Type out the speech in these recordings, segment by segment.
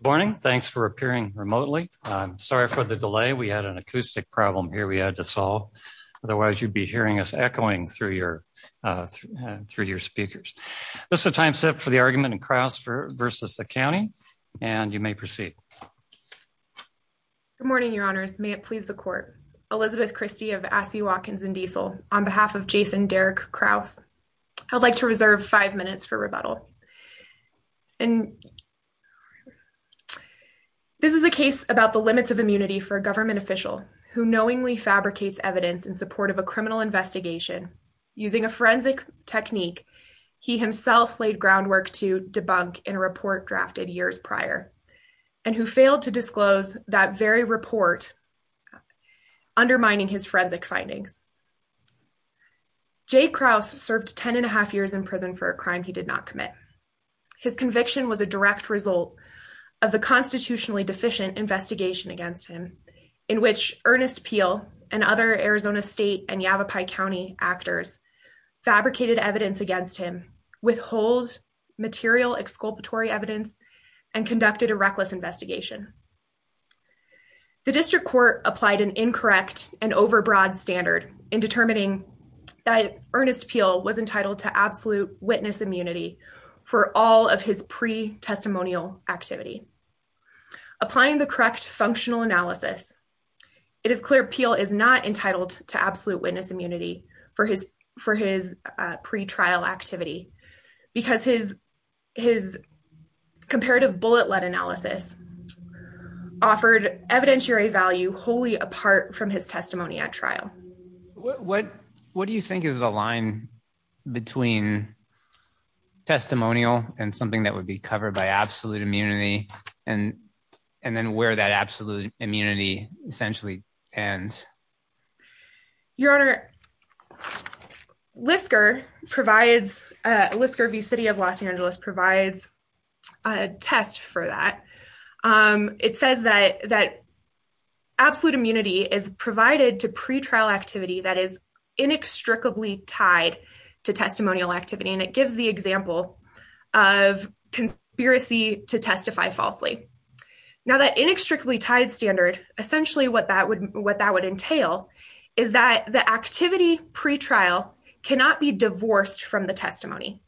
Good morning. Thanks for appearing remotely. I'm sorry for the delay. We had an acoustic problem here we had to solve. Otherwise, you'd be hearing us echoing through your speakers. This is a time set for the argument in Krause versus the county, and you may proceed. Good morning, Your Honors. May it please the court. Elizabeth Christie of Aspey, Watkins & Diesel on behalf of Jason Derek Krause. I'd like to reserve five minutes for rebuttal. This is a case about the limits of immunity for a government official who knowingly fabricates evidence in support of a criminal investigation using a forensic technique he himself laid groundwork to debunk in a report drafted years prior, and who failed to disclose that very report, undermining his forensic findings. Jay Krause served 10 and a half years in prison for a crime he did not commit. His conviction was a direct result of the constitutionally deficient investigation against him, in which Ernest Peel and other Arizona State and Yavapai County actors fabricated evidence against him, withhold material exculpatory evidence, and conducted a reckless investigation. The district court applied an incorrect and overbroad standard in determining that Ernest Peel was entitled to absolute witness immunity for all of his pre-testimonial activity. Applying the correct functional analysis, it is clear Peel is not entitled to absolute witness immunity for his pre-trial activity because his comparative bullet-let analysis offered evidentiary value wholly apart from his testimony at trial. What do you think is the line between testimonial and something that would be covered by absolute immunity, and then where that absolute immunity essentially ends? Your Honor, LISCR v. City of Los Angeles provides a test for that. It says that absolute immunity is provided to pre-trial activity that is inextricably tied to testimonial activity, and it gives the example of conspiracy to testify falsely. Now, that inextricably tied standard, essentially what that would entail is that the activity pre-trial cannot be divorced from the testimony,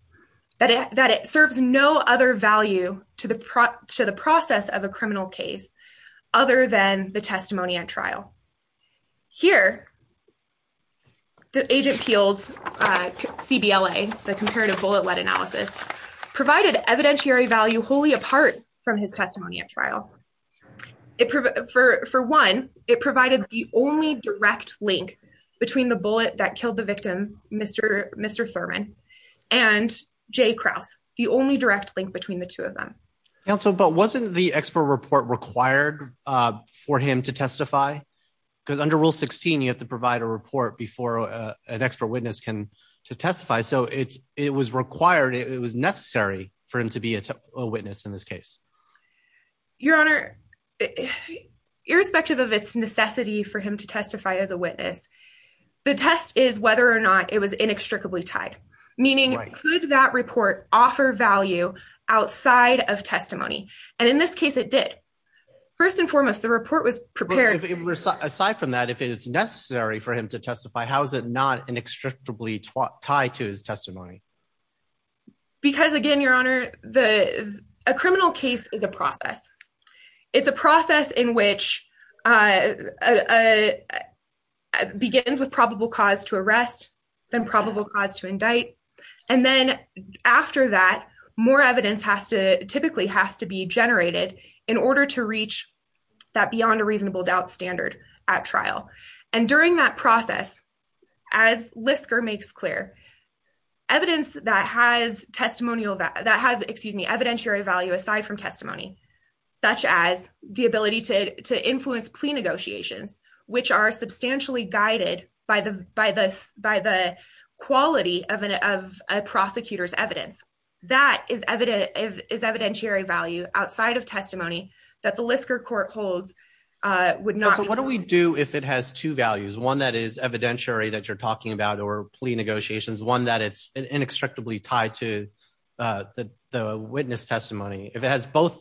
that it serves no other value to the process of a criminal case other than the testimony at trial. Here, Agent Peel's CBLA, the comparative bullet-let analysis, provided evidentiary value wholly apart from his testimony at trial. For one, it provided the only direct link between the bullet that killed the victim, Mr. Thurman, and J. Krause, the only direct link between the two of them. Counsel, but wasn't the expert report required for him to testify? Because under Rule 16, you have to provide a report before an expert witness can testify, so it was required, it was necessary for him to be a witness in this case. Your Honor, irrespective of its necessity for him to testify as a witness, the test is whether or not it was inextricably tied, meaning could that report offer value outside of testimony? And in this case, it did. First and foremost, the report was prepared. Aside from that, if it's necessary for him to testify, how is it not inextricably tied to his testimony? Because again, Your Honor, a criminal case is a process. It's a process in which it begins with probable cause to arrest, then probable cause to indict, and then after that, more evidence typically has to be generated in order to reach that beyond a reasonable doubt standard at trial. And during that process, as Lisker makes clear, evidence that has testimonial, that has, excuse me, evidentiary value aside from testimony, such as the ability to influence plea negotiations, which are substantially guided by the quality of a prosecutor's evidence, that is evidentiary value outside of testimony that the Lisker court holds would not be. So what do we do if it has two values, one that is evidentiary that you're talking about or plea negotiations, one that it's inextricably tied to the witness testimony? If it has both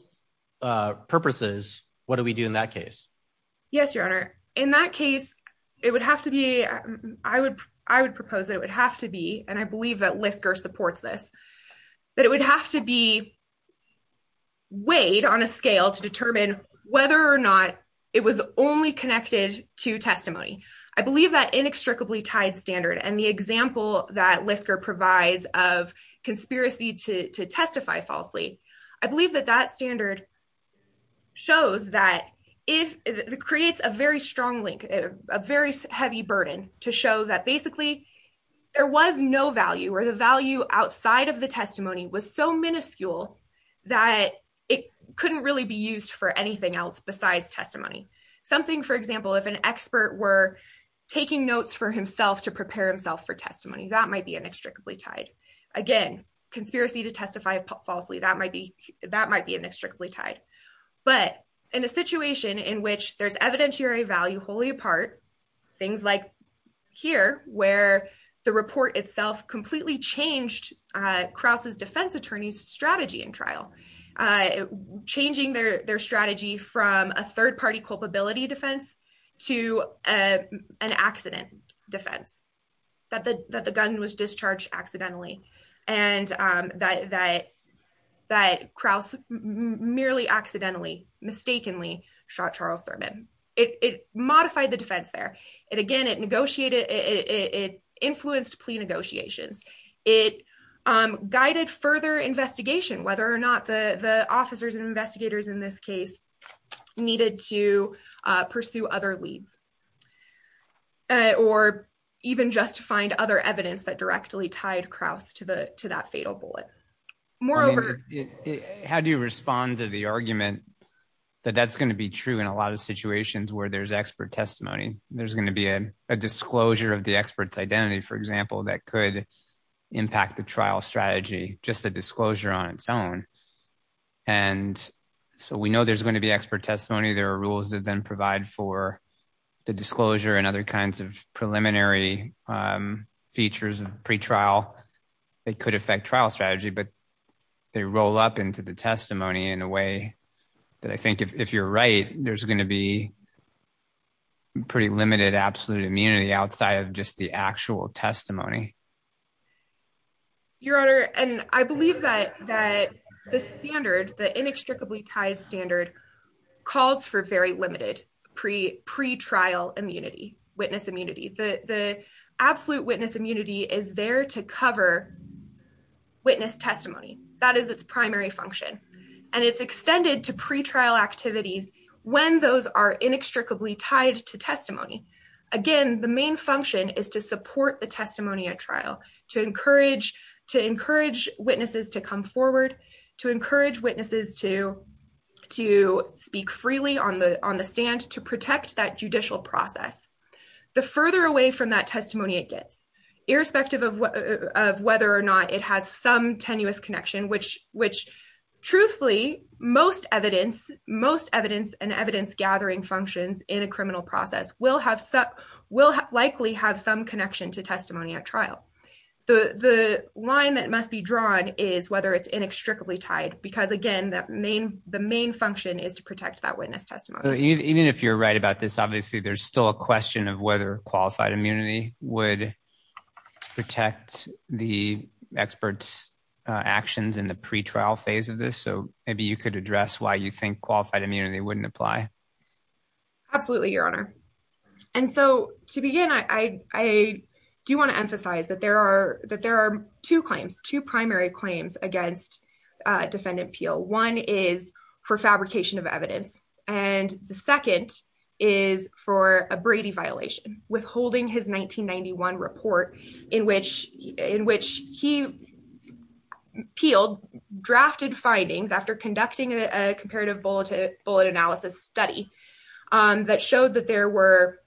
purposes, what do we do in that case? Yes, Your Honor. In that case, it would have to be, I would propose that it would have to be, and I believe that Lisker supports this, that it would have to be weighed on a scale to determine whether or not it was only connected to testimony. I believe that inextricably tied standard and the example that Lisker provides of conspiracy to testify falsely, I believe that that standard shows that it creates a very strong link, a very heavy burden to show that basically there was no value or the value outside of the testimony was so miniscule that it couldn't really be used for anything else besides testimony. Something, for example, if an expert were taking notes for himself to prepare himself for testimony, that might be inextricably tied. Again, conspiracy to testify falsely, that might be inextricably tied. But in a situation in which there's evidentiary value wholly apart, things like here, where the report itself completely changed Krause's defense attorney's strategy in trial, changing their strategy from a third party culpability defense to an accident defense, that the gun was discharged accidentally. And that Krause merely accidentally, mistakenly shot Charles Thurman. It modified the defense there. And again, it influenced plea negotiations. It guided further investigation, whether or not the officers and investigators in this case needed to pursue other leads. Or even just to find other evidence that directly tied Krause to that fatal bullet. How do you respond to the argument that that's going to be true in a lot of situations where there's expert testimony? There's going to be a disclosure of the expert's identity, for example, that could impact the trial strategy, just a disclosure on its own. And so we know there's going to be expert testimony. There are rules that then provide for the disclosure and other kinds of preliminary features of pretrial that could affect trial strategy, but they roll up into the testimony in a way that I think if you're right, there's going to be pretty limited absolute immunity outside of just the actual testimony. Your Honor, and I believe that the standard, the inextricably tied standard calls for very limited pretrial immunity, witness immunity. The absolute witness immunity is there to cover witness testimony. That is its primary function. And it's extended to pretrial activities when those are inextricably tied to testimony. Again, the main function is to support the testimony at trial, to encourage witnesses to come forward, to encourage witnesses to speak freely on the stand, to protect that judicial process. The further away from that testimony it gets, irrespective of whether or not it has some tenuous connection, which truthfully, most evidence and evidence gathering functions in a criminal process will likely have some connection to testimony at trial. The line that must be drawn is whether it's inextricably tied, because again, the main function is to protect that witness testimony. Even if you're right about this, obviously, there's still a question of whether qualified immunity would protect the expert's actions in the pretrial phase of this. So maybe you could address why you think qualified immunity wouldn't apply. Absolutely, Your Honor. And so to begin, I do want to emphasize that there are two claims, two primary claims against Defendant Peel. One is for fabrication of evidence. And the second is for a Brady violation, withholding his 1991 report in which he peeled, drafted findings after conducting a comparative bullet analysis study that showed that there were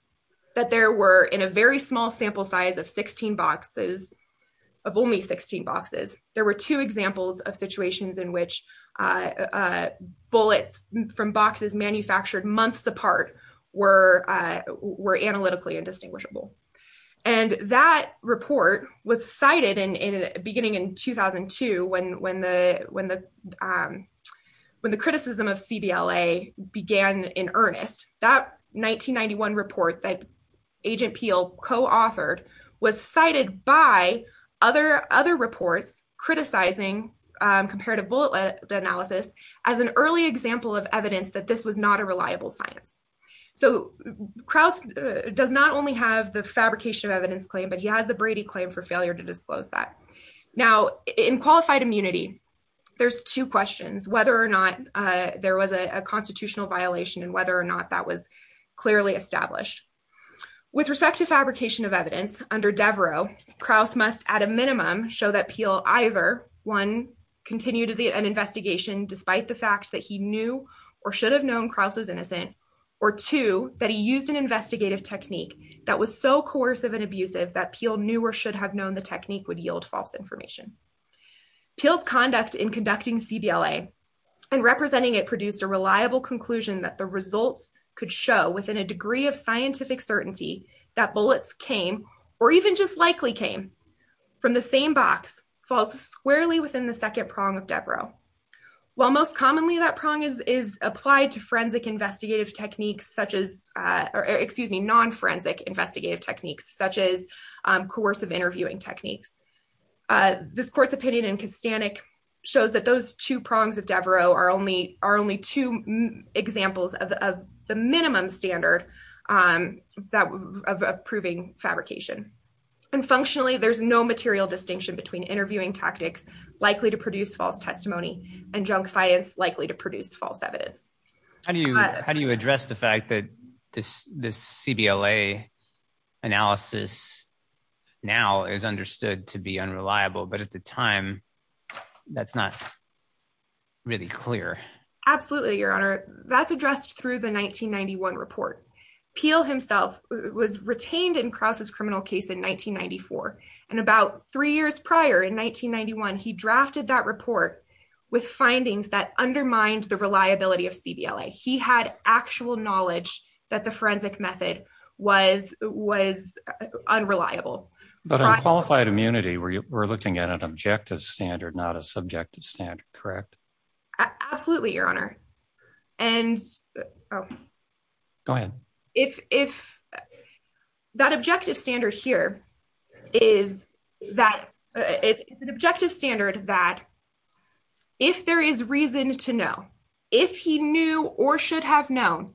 in a very small sample size of 16 boxes, of only 16 boxes, there were two examples of situations in which bullets from boxes manufactured months apart were analytically indistinguishable. And that report was cited beginning in 2002 when the criticism of CBLA began in earnest. That 1991 report that Agent Peel co-authored was cited by other reports criticizing comparative bullet analysis as an early example of evidence that this was not a reliable science. So Krauss does not only have the fabrication of evidence claim, but he has the Brady claim for failure to disclose that. Now, in qualified immunity, there's two questions, whether or not there was a constitutional violation and whether or not that was clearly established. With respect to fabrication of evidence under Devereux, Krauss must at a minimum show that Peel either, one, continued an investigation despite the fact that he knew or should have known Krauss was innocent, or two, that he used an investigative technique that was so coercive and abusive that Peel knew or should have known the technique would yield false information. Peel's conduct in conducting CBLA and representing it produced a reliable conclusion that the results could show, within a degree of scientific certainty, that bullets came, or even just likely came, from the same box, false squarely within the second prong of Devereux. While most commonly that prong is applied to forensic investigative techniques such as, or excuse me, non-forensic investigative techniques such as coercive interviewing techniques, this court's opinion in Kastanik shows that those two prongs of Devereux are only two examples of the minimum standard of proving fabrication. And functionally, there's no material distinction between interviewing tactics likely to produce false testimony and junk science likely to produce false evidence. How do you address the fact that this CBLA analysis now is understood to be unreliable, but at the time that's not really clear? Absolutely, Your Honor. That's addressed through the 1991 report. Peel himself was retained in Krauss' criminal case in 1994, and about three years prior, in 1991, he drafted that report with findings that undermined the reliability of CBLA. He had actual knowledge that the forensic method was unreliable. But on qualified immunity, we're looking at an objective standard, not a subjective standard, correct? Absolutely, Your Honor. And if that objective standard here is that it's an objective standard that if there is reason to know, if he knew or should have known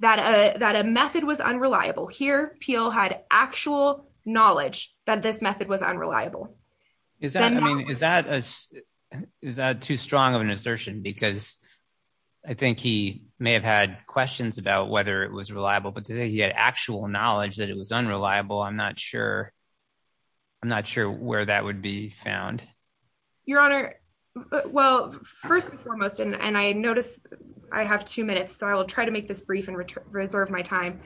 that a method was unreliable, here Peel had actual knowledge that this method was unreliable. Is that too strong of an assertion? Because I think he may have had questions about whether it was reliable, but to say he had actual knowledge that it was unreliable, I'm not sure where that would be found. Your Honor, well, first and foremost, and I notice I have two minutes, so I will try to make this brief and reserve my time.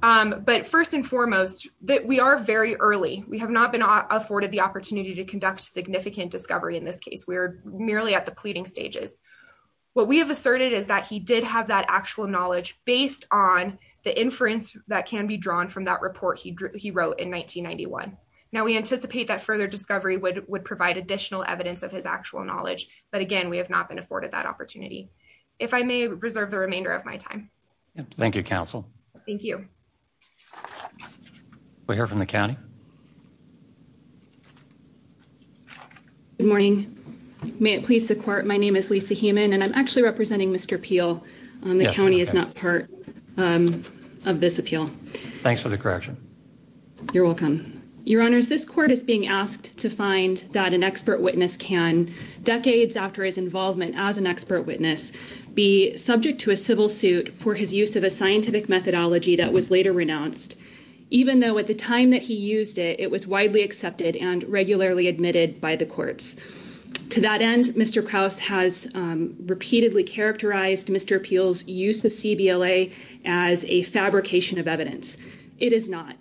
But first and foremost, we are very early. We have not been afforded the opportunity to conduct significant discovery in this case. We're merely at the pleading stages. What we have asserted is that he did have that actual knowledge based on the inference that can be drawn from that report he wrote in 1991. Now, we anticipate that further discovery would provide additional evidence of his actual knowledge. But again, we have not been afforded that opportunity. If I may reserve the remainder of my time. Thank you, counsel. Thank you. We'll hear from the county. I would like to present to counsel is Mr. Peel. Yes, Your Honor. The county is not part. Of this appeal. Thanks for the correction. You're welcome, Your Honor. Is this court is being asked to find that an expert witness can decades after his involvement as an expert witness. Be subject to a civil suit for his use of a scientific methodology that was later renounced. Even though at the time that he used it, it was widely accepted and regularly admitted by the courts. To that end, Mr. Krauss has repeatedly characterized Mr. Peel's use of as a fabrication of evidence. It is not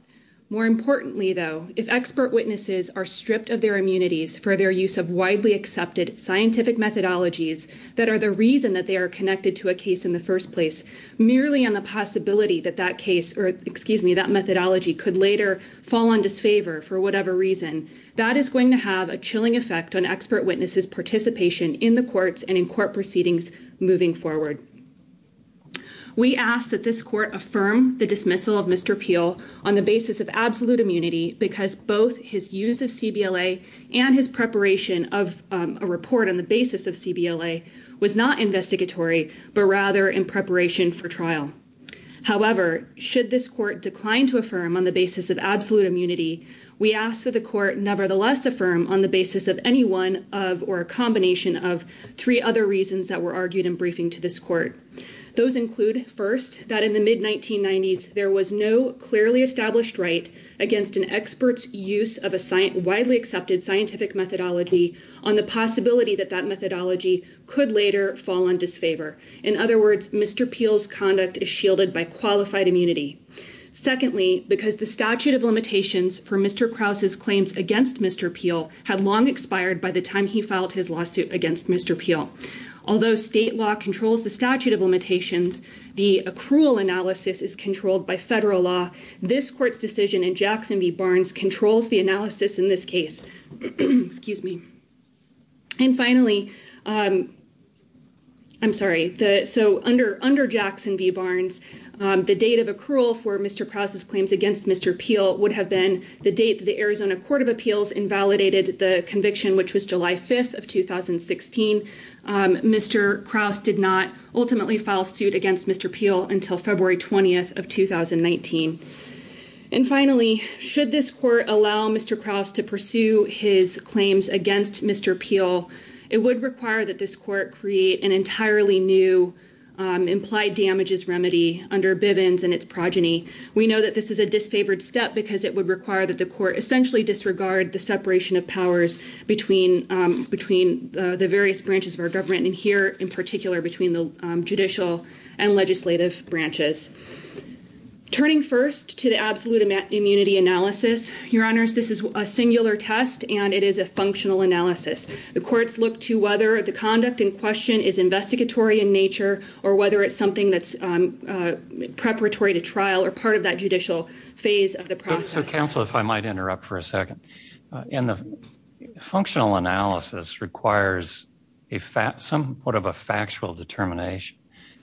more importantly, though, if expert witnesses are stripped of their immunities for their use of widely accepted scientific methodologies. That are the reason that they are connected to a case in the first place. Merely on the possibility that that case or excuse me, that methodology could later fall on disfavor for whatever reason. That is going to have a chilling effect on expert witnesses participation in the courts and in court proceedings moving forward. We ask that this court affirm the dismissal of Mr. Peel on the basis of absolute immunity. Because both his use of C.B.L.A. and his preparation of a report on the basis of C.B.L.A. was not investigatory, but rather in preparation for trial. However, should this court decline to affirm on the basis of absolute immunity? We ask that the court nevertheless affirm on the basis of any one of or a combination of three other reasons that were argued in briefing to this court. Those include, first, that in the mid-1990s, there was no clearly established right against an expert's use of a widely accepted scientific methodology. On the possibility that that methodology could later fall on disfavor. In other words, Mr. Peel's conduct is shielded by qualified immunity. Secondly, because the statute of limitations for Mr. Krause's claims against Mr. Peel had long expired by the time he filed his lawsuit against Mr. Peel. Although state law controls the statute of limitations, the accrual analysis is controlled by federal law. This court's decision in Jackson v. Barnes controls the analysis in this case. Excuse me. And finally, I'm sorry. So under under Jackson v. Barnes, the date of accrual for Mr. Krause's claims against Mr. Peel would have been the date the Arizona Court of Appeals invalidated the conviction, which was July 5th of 2016. Mr. Krause did not ultimately file suit against Mr. Peel until February 20th of 2019. And finally, should this court allow Mr. Krause to pursue his claims against Mr. Peel, it would require that this court create an entirely new implied damages remedy under Bivens and its progeny. We know that this is a disfavored step because it would require that the court essentially disregard the separation of powers between between the various branches of our government and here in particular between the judicial and legislative branches. Turning first to the absolute immunity analysis, your honors, this is a singular test and it is a functional analysis. The courts look to whether the conduct in question is investigatory in nature or whether it's something that's preparatory to trial or part of that judicial phase of the process. Counsel, if I might interrupt for a second in the functional analysis requires a fat somewhat of a factual determination.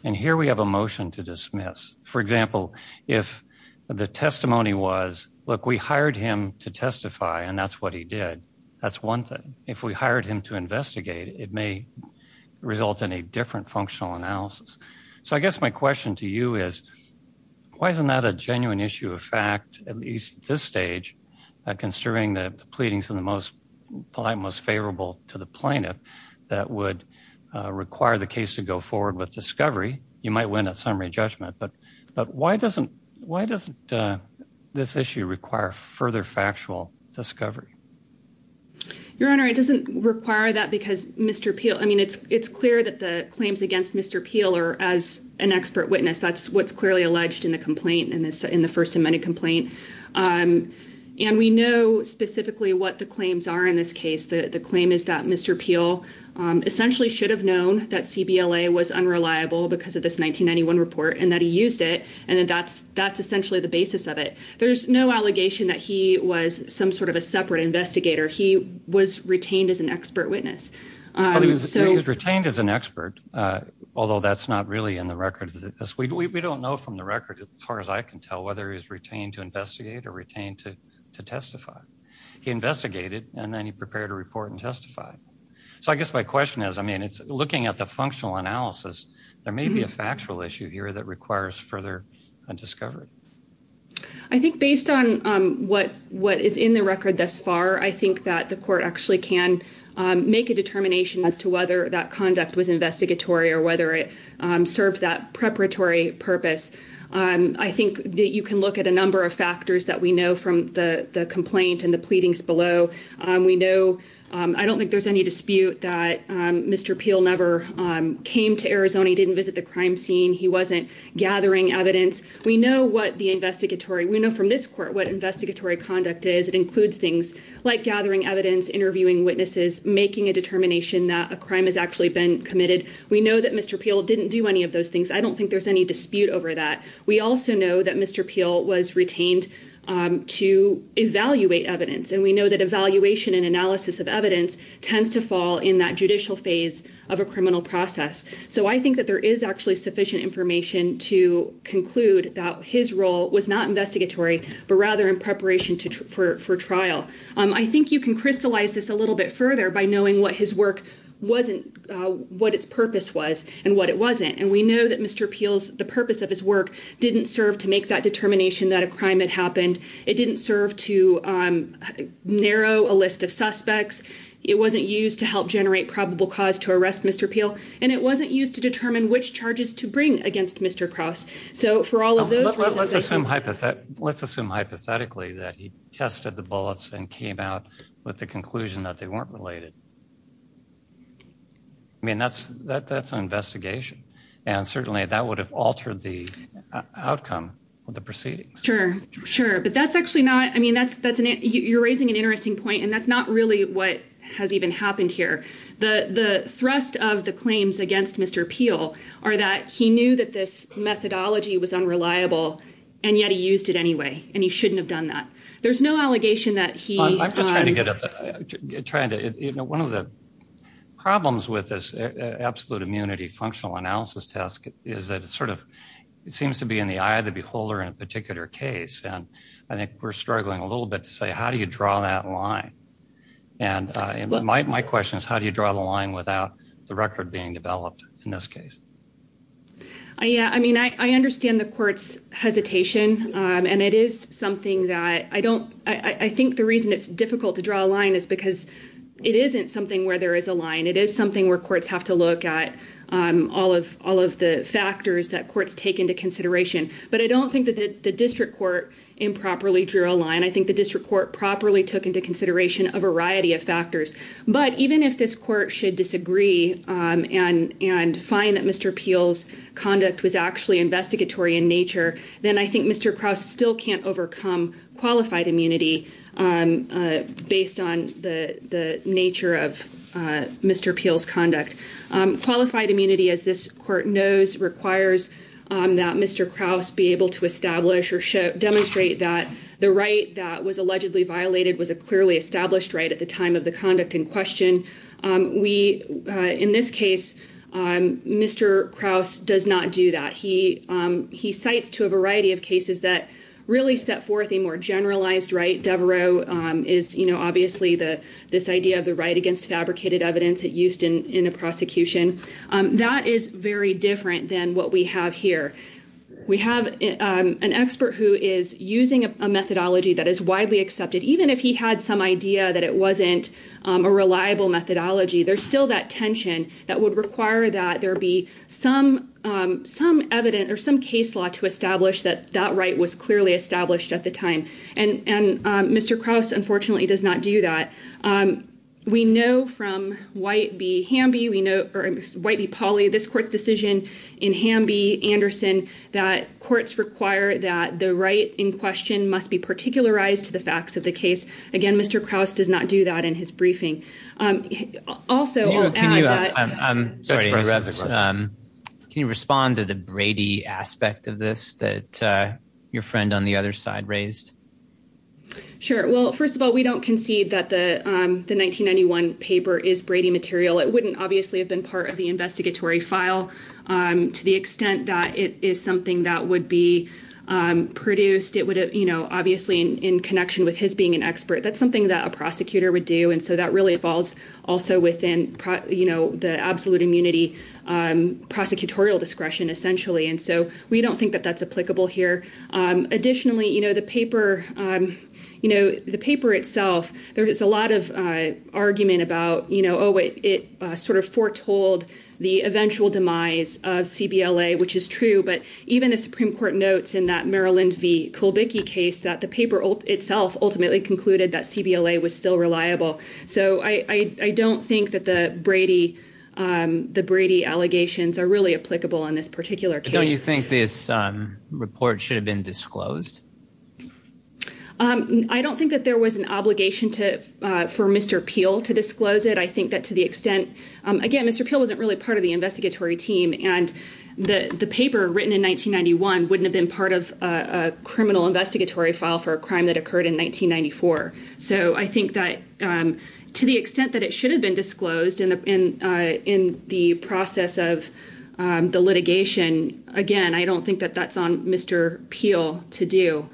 And here we have a motion to dismiss, for example, if the testimony was, look, we hired him to testify and that's what he did. That's one thing. If we hired him to investigate, it may result in a different functional analysis. So I guess my question to you is, why isn't that a genuine issue of fact, at least this stage, considering the pleadings in the most polite, most favorable to the plaintiff that would require the case to go forward with discovery? You might win a summary judgment, but but why doesn't why doesn't this issue require further factual discovery? Your Honor, it doesn't require that because Mr. Peel, I mean, it's it's clear that the claims against Mr. Peeler as an expert witness, that's what's clearly alleged in the complaint in this in the First Amendment complaint. And we know specifically what the claims are in this case. The claim is that Mr. Peel essentially should have known that CBL was unreliable because of this 1991 report and that he used it. And that's that's essentially the basis of it. There's no allegation that he was some sort of a separate investigator. He was retained as an expert witness. He was retained as an expert, although that's not really in the record. We don't know from the record, as far as I can tell, whether he was retained to investigate or retained to testify. He investigated and then he prepared a report and testified. So I guess my question is, I mean, it's looking at the functional analysis. There may be a factual issue here that requires further discovery. I think based on what what is in the record thus far, I think that the court actually can make a determination as to whether that conduct was investigatory or whether it serves that preparatory purpose. I think that you can look at a number of factors that we know from the complaint and the pleadings below. We know I don't think there's any dispute that Mr. Peel never came to Arizona. He didn't visit the crime scene. He wasn't gathering evidence. We know what the investigatory we know from this court, what investigatory conduct is. It includes things like gathering evidence, interviewing witnesses, making a determination that a crime has actually been committed. We know that Mr. Peel didn't do any of those things. I don't think there's any dispute over that. We also know that Mr. Peel was retained to evaluate evidence. And we know that evaluation and analysis of evidence tends to fall in that judicial phase of a criminal process. So I think that there is actually sufficient information to conclude that his role was not investigatory, but rather in preparation for trial. I think you can crystallize this a little bit further by knowing what his work wasn't, what its purpose was and what it wasn't. And we know that Mr. Peel's the purpose of his work didn't serve to make that determination that a crime had happened. It didn't serve to narrow a list of suspects. It wasn't used to help generate probable cause to arrest Mr. Peel. And it wasn't used to determine which charges to bring against Mr. Cross. Let's assume hypothetically that he tested the bullets and came out with the conclusion that they weren't related. I mean, that's an investigation, and certainly that would have altered the outcome of the proceedings. Sure, sure. But that's actually not, I mean, you're raising an interesting point, and that's not really what has even happened here. The thrust of the claims against Mr. Peel are that he knew that this methodology was unreliable, and yet he used it anyway, and he shouldn't have done that. There's no allegation that he… I'm just trying to get at that. One of the problems with this absolute immunity functional analysis test is that it sort of seems to be in the eye of the beholder in a particular case. And I think we're struggling a little bit to say how do you draw that line? And my question is, how do you draw the line without the record being developed in this case? Yeah, I mean, I understand the court's hesitation, and it is something that I don't… I think the reason it's difficult to draw a line is because it isn't something where there is a line. It is something where courts have to look at all of the factors that courts take into consideration. But I don't think that the district court improperly drew a line. I think the district court properly took into consideration a variety of factors. But even if this court should disagree and find that Mr. Peel's conduct was actually investigatory in nature, then I think Mr. Krause still can't overcome qualified immunity based on the nature of Mr. Peel's conduct. Qualified immunity, as this court knows, requires that Mr. Krause be able to establish or demonstrate that the right that was allegedly violated was a clearly established right at the time of the conduct in question. In this case, Mr. Krause does not do that. He cites to a variety of cases that really set forth a more generalized right. Devereux is obviously this idea of the right against fabricated evidence used in a prosecution. That is very different than what we have here. We have an expert who is using a methodology that is widely accepted. Even if he had some idea that it wasn't a reliable methodology, there's still that tension that would require that there be some evidence or some case law to establish that that right was clearly established at the time. And Mr. Krause, unfortunately, does not do that. We know from White v. Pauley, this court's decision in Hamby v. Anderson, that courts require that the right in question must be particularized to the facts of the case. Again, Mr. Krause does not do that in his briefing. Also, can you respond to the Brady aspect of this that your friend on the other side raised? Sure. Well, first of all, we don't concede that the 1991 paper is Brady material. It wouldn't obviously have been part of the investigatory file to the extent that it is something that would be produced. It would have, you know, obviously in connection with his being an expert. That's something that a prosecutor would do. And so that really falls also within, you know, the absolute immunity prosecutorial discretion, essentially. And so we don't think that that's applicable here. Additionally, you know, the paper, you know, the paper itself, there is a lot of argument about, you know, oh, it sort of foretold the eventual demise of CBLA, which is true. But even the Supreme Court notes in that Maryland v. Kulbicki case that the paper itself ultimately concluded that CBLA was still reliable. So I don't think that the Brady the Brady allegations are really applicable in this particular case. Don't you think this report should have been disclosed? I don't think that there was an obligation to for Mr. Peel to disclose it. I think that to the extent again, Mr. Peel wasn't really part of the investigatory team. And the paper written in 1991 wouldn't have been part of a criminal investigatory file for a crime that occurred in 1994. So I think that to the extent that it should have been disclosed in the process of the litigation. Again, I don't think that that's on Mr. Peel to do.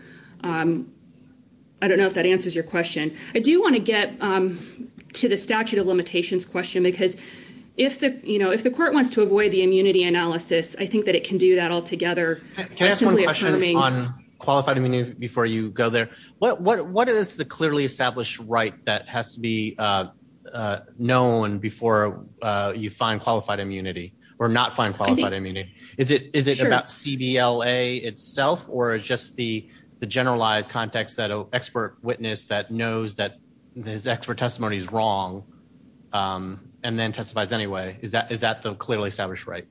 I don't know if that answers your question. I do want to get to the statute of limitations question, because if the, you know, if the court wants to avoid the immunity analysis, I think that it can do that altogether. Can I ask one question on qualified immunity before you go there? What is the clearly established right that has to be known before you find qualified immunity or not find qualified immunity? Is it about CBLA itself or just the generalized context that an expert witness that knows that his expert testimony is wrong and then testifies anyway? Is that the clearly established right?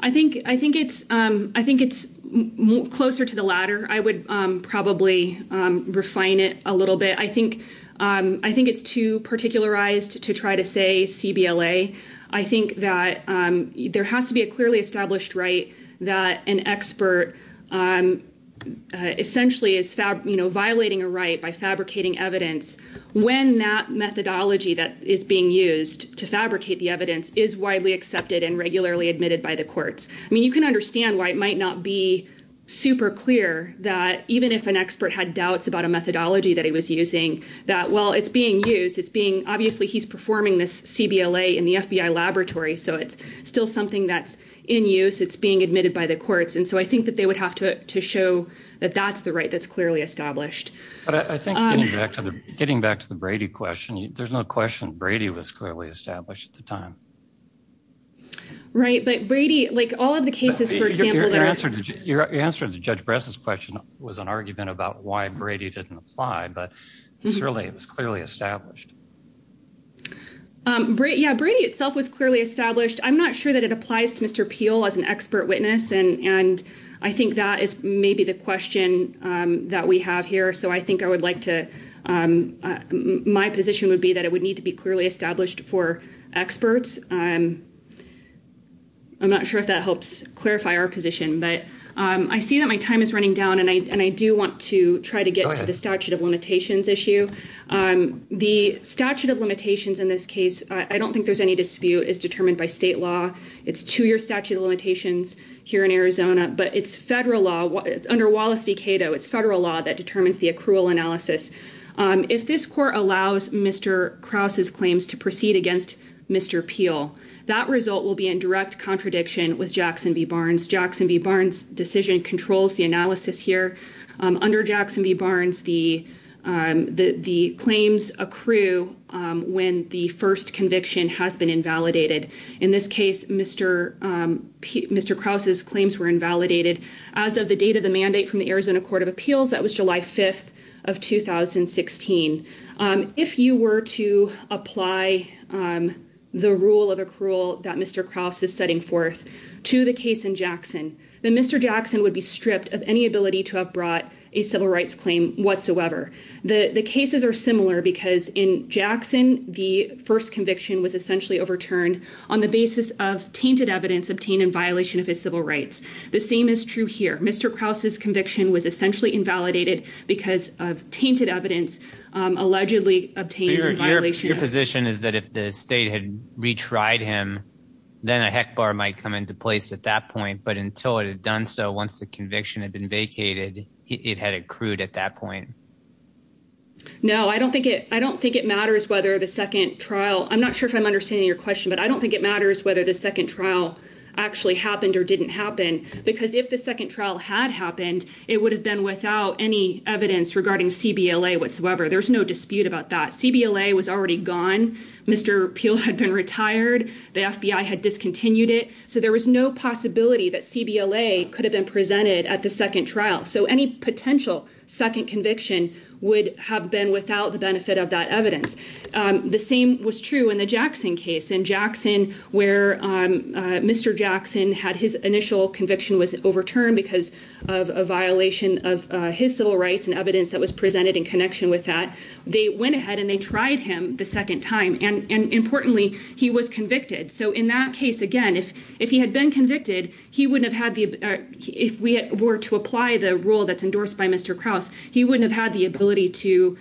I think it's closer to the latter. I would probably refine it a little bit. I think it's too particularized to try to say CBLA. I think that there has to be a clearly established right that an expert essentially is violating a right by fabricating evidence when that methodology that is being used to fabricate the evidence is widely accepted and regularly admitted by the courts. I mean, you can understand why it might not be super clear that even if an expert had doubts about a methodology that he was using, that while it's being used, it's being obviously he's performing this CBLA in the FBI laboratory. So it's still something that's in use. It's being admitted by the courts. And so I think that they would have to show that that's the right that's clearly established. But I think getting back to the getting back to the Brady question, there's no question Brady was clearly established at the time. Right. But Brady, like all of the cases, for example, your answer to Judge Bress's question was an argument about why Brady didn't apply. But certainly it was clearly established. Yeah, Brady itself was clearly established. I'm not sure that it applies to Mr. Peel as an expert witness. And I think that is maybe the question that we have here. So I think I would like to my position would be that it would need to be clearly established for experts. I'm not sure if that helps clarify our position, but I see that my time is running down and I do want to try to get to the statute of limitations issue. The statute of limitations in this case. I don't think there's any dispute is determined by state law. It's two year statute of limitations here in Arizona, but it's federal law. It's under Wallace v. Cato. It's federal law that determines the accrual analysis. If this court allows Mr. Krause's claims to proceed against Mr. Peel, that result will be in direct contradiction with Jackson v. Barnes. Jackson v. Barnes decision controls the analysis here under Jackson v. Barnes. The the claims accrue when the first conviction has been invalidated. In this case, Mr. Krause's claims were invalidated as of the date of the mandate from the Arizona Court of Appeals. That was July 5th of 2016. If you were to apply the rule of accrual that Mr. Krause is setting forth to the case in Jackson, then Mr. Jackson would be stripped of any ability to have brought a civil rights claim whatsoever. The cases are similar because in Jackson, the first conviction was essentially overturned on the basis of tainted evidence obtained in violation of his civil rights. The same is true here. Mr. Krause's conviction was essentially invalidated because of tainted evidence allegedly obtained in violation. Your position is that if the state had retried him, then a heck bar might come into place at that point. But until it had done so, once the conviction had been vacated, it had accrued at that point. No, I don't think it I don't think it matters whether the second trial I'm not sure if I'm understanding your question, but I don't think it matters whether the second trial actually happened or didn't happen, because if the second trial had happened, it would have been without any evidence regarding CBLA whatsoever. There's no dispute about that. CBLA was already gone. Mr. Peel had been retired. The FBI had discontinued it. So there was no possibility that CBLA could have been presented at the second trial. So any potential second conviction would have been without the benefit of that evidence. The same was true in the Jackson case in Jackson, where Mr. Jackson had his initial conviction was overturned because of a violation of his civil rights and evidence that was presented in connection with that. They went ahead and they tried him the second time and importantly, he was convicted. So in that case, again, if if he had been convicted, he wouldn't have had the if we were to apply the rule that's endorsed by Mr. Krause, he wouldn't have had the ability to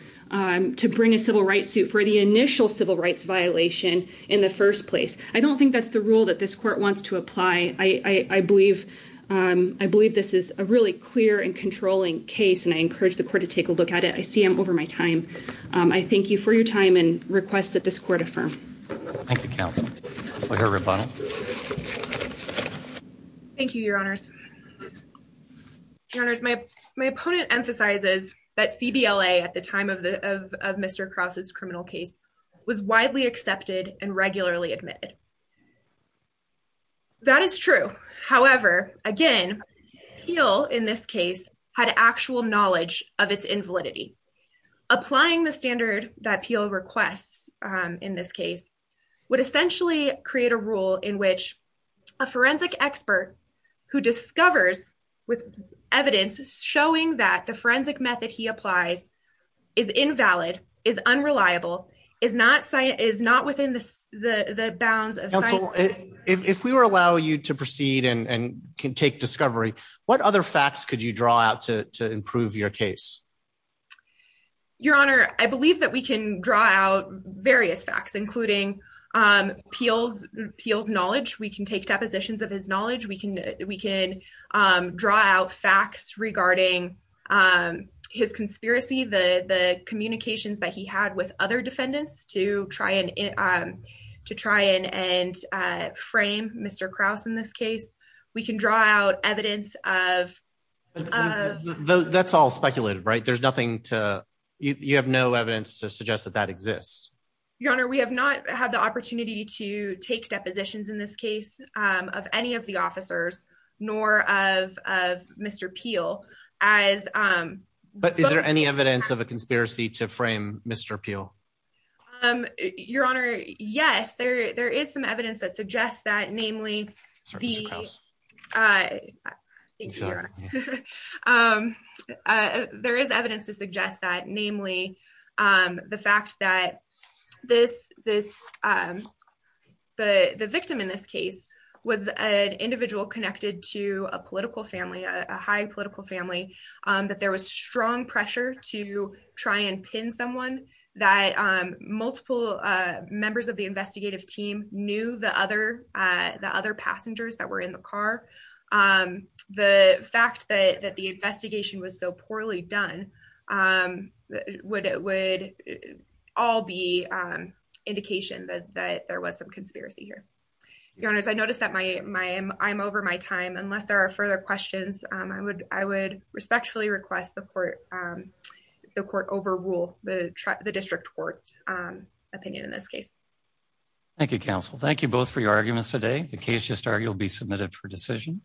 to bring a civil rights suit for the initial civil rights violation in the first place. I don't think that's the rule that this court wants to apply. I believe I believe this is a really clear and controlling case. And I encourage the court to take a look at it. I see I'm over my time. I thank you for your time and request that this court affirm. Thank you, counsel. Thank you, Your Honors. Your Honor, my my opponent emphasizes that CBLA at the time of the of Mr. Krause's criminal case was widely accepted and regularly admitted. That is true, however, again, Peale in this case had actual knowledge of its invalidity. Applying the standard that Peale requests in this case would essentially create a rule in which a forensic expert who discovers with evidence showing that the forensic method he applies is invalid, is unreliable, is not science, is not within the bounds of if we were allow you to proceed and can take discovery. What other facts could you draw out to improve your case? Your Honor, I believe that we can draw out various facts, including Peale's knowledge. We can take depositions of his knowledge. We can we can draw out facts regarding his conspiracy. The communications that he had with other defendants to try and to try and frame Mr. Krause in this case, we can draw out evidence of. That's all speculative, right? There's nothing to you have no evidence to suggest that that exists. Your Honor, we have not had the opportunity to take depositions in this case of any of the officers, nor of Mr. Peale as. But is there any evidence of a conspiracy to frame Mr. Peale? Your Honor? Yes, there there is some evidence that suggests that namely. The. There is evidence to suggest that namely the fact that this this. The victim in this case was an individual connected to a political family, a high political family, that there was strong pressure to try and pin someone that multiple members of the investigative team knew. The other the other passengers that were in the car, the fact that that the investigation was so poorly done, what it would all be indication that there was some conspiracy here. Your Honor, I noticed that my my I'm over my time unless there are further questions. I would I would respectfully request the court the court overrule the district court's opinion in this case. Thank you, counsel. Thank you both for your arguments today. The case just argued will be submitted for decision.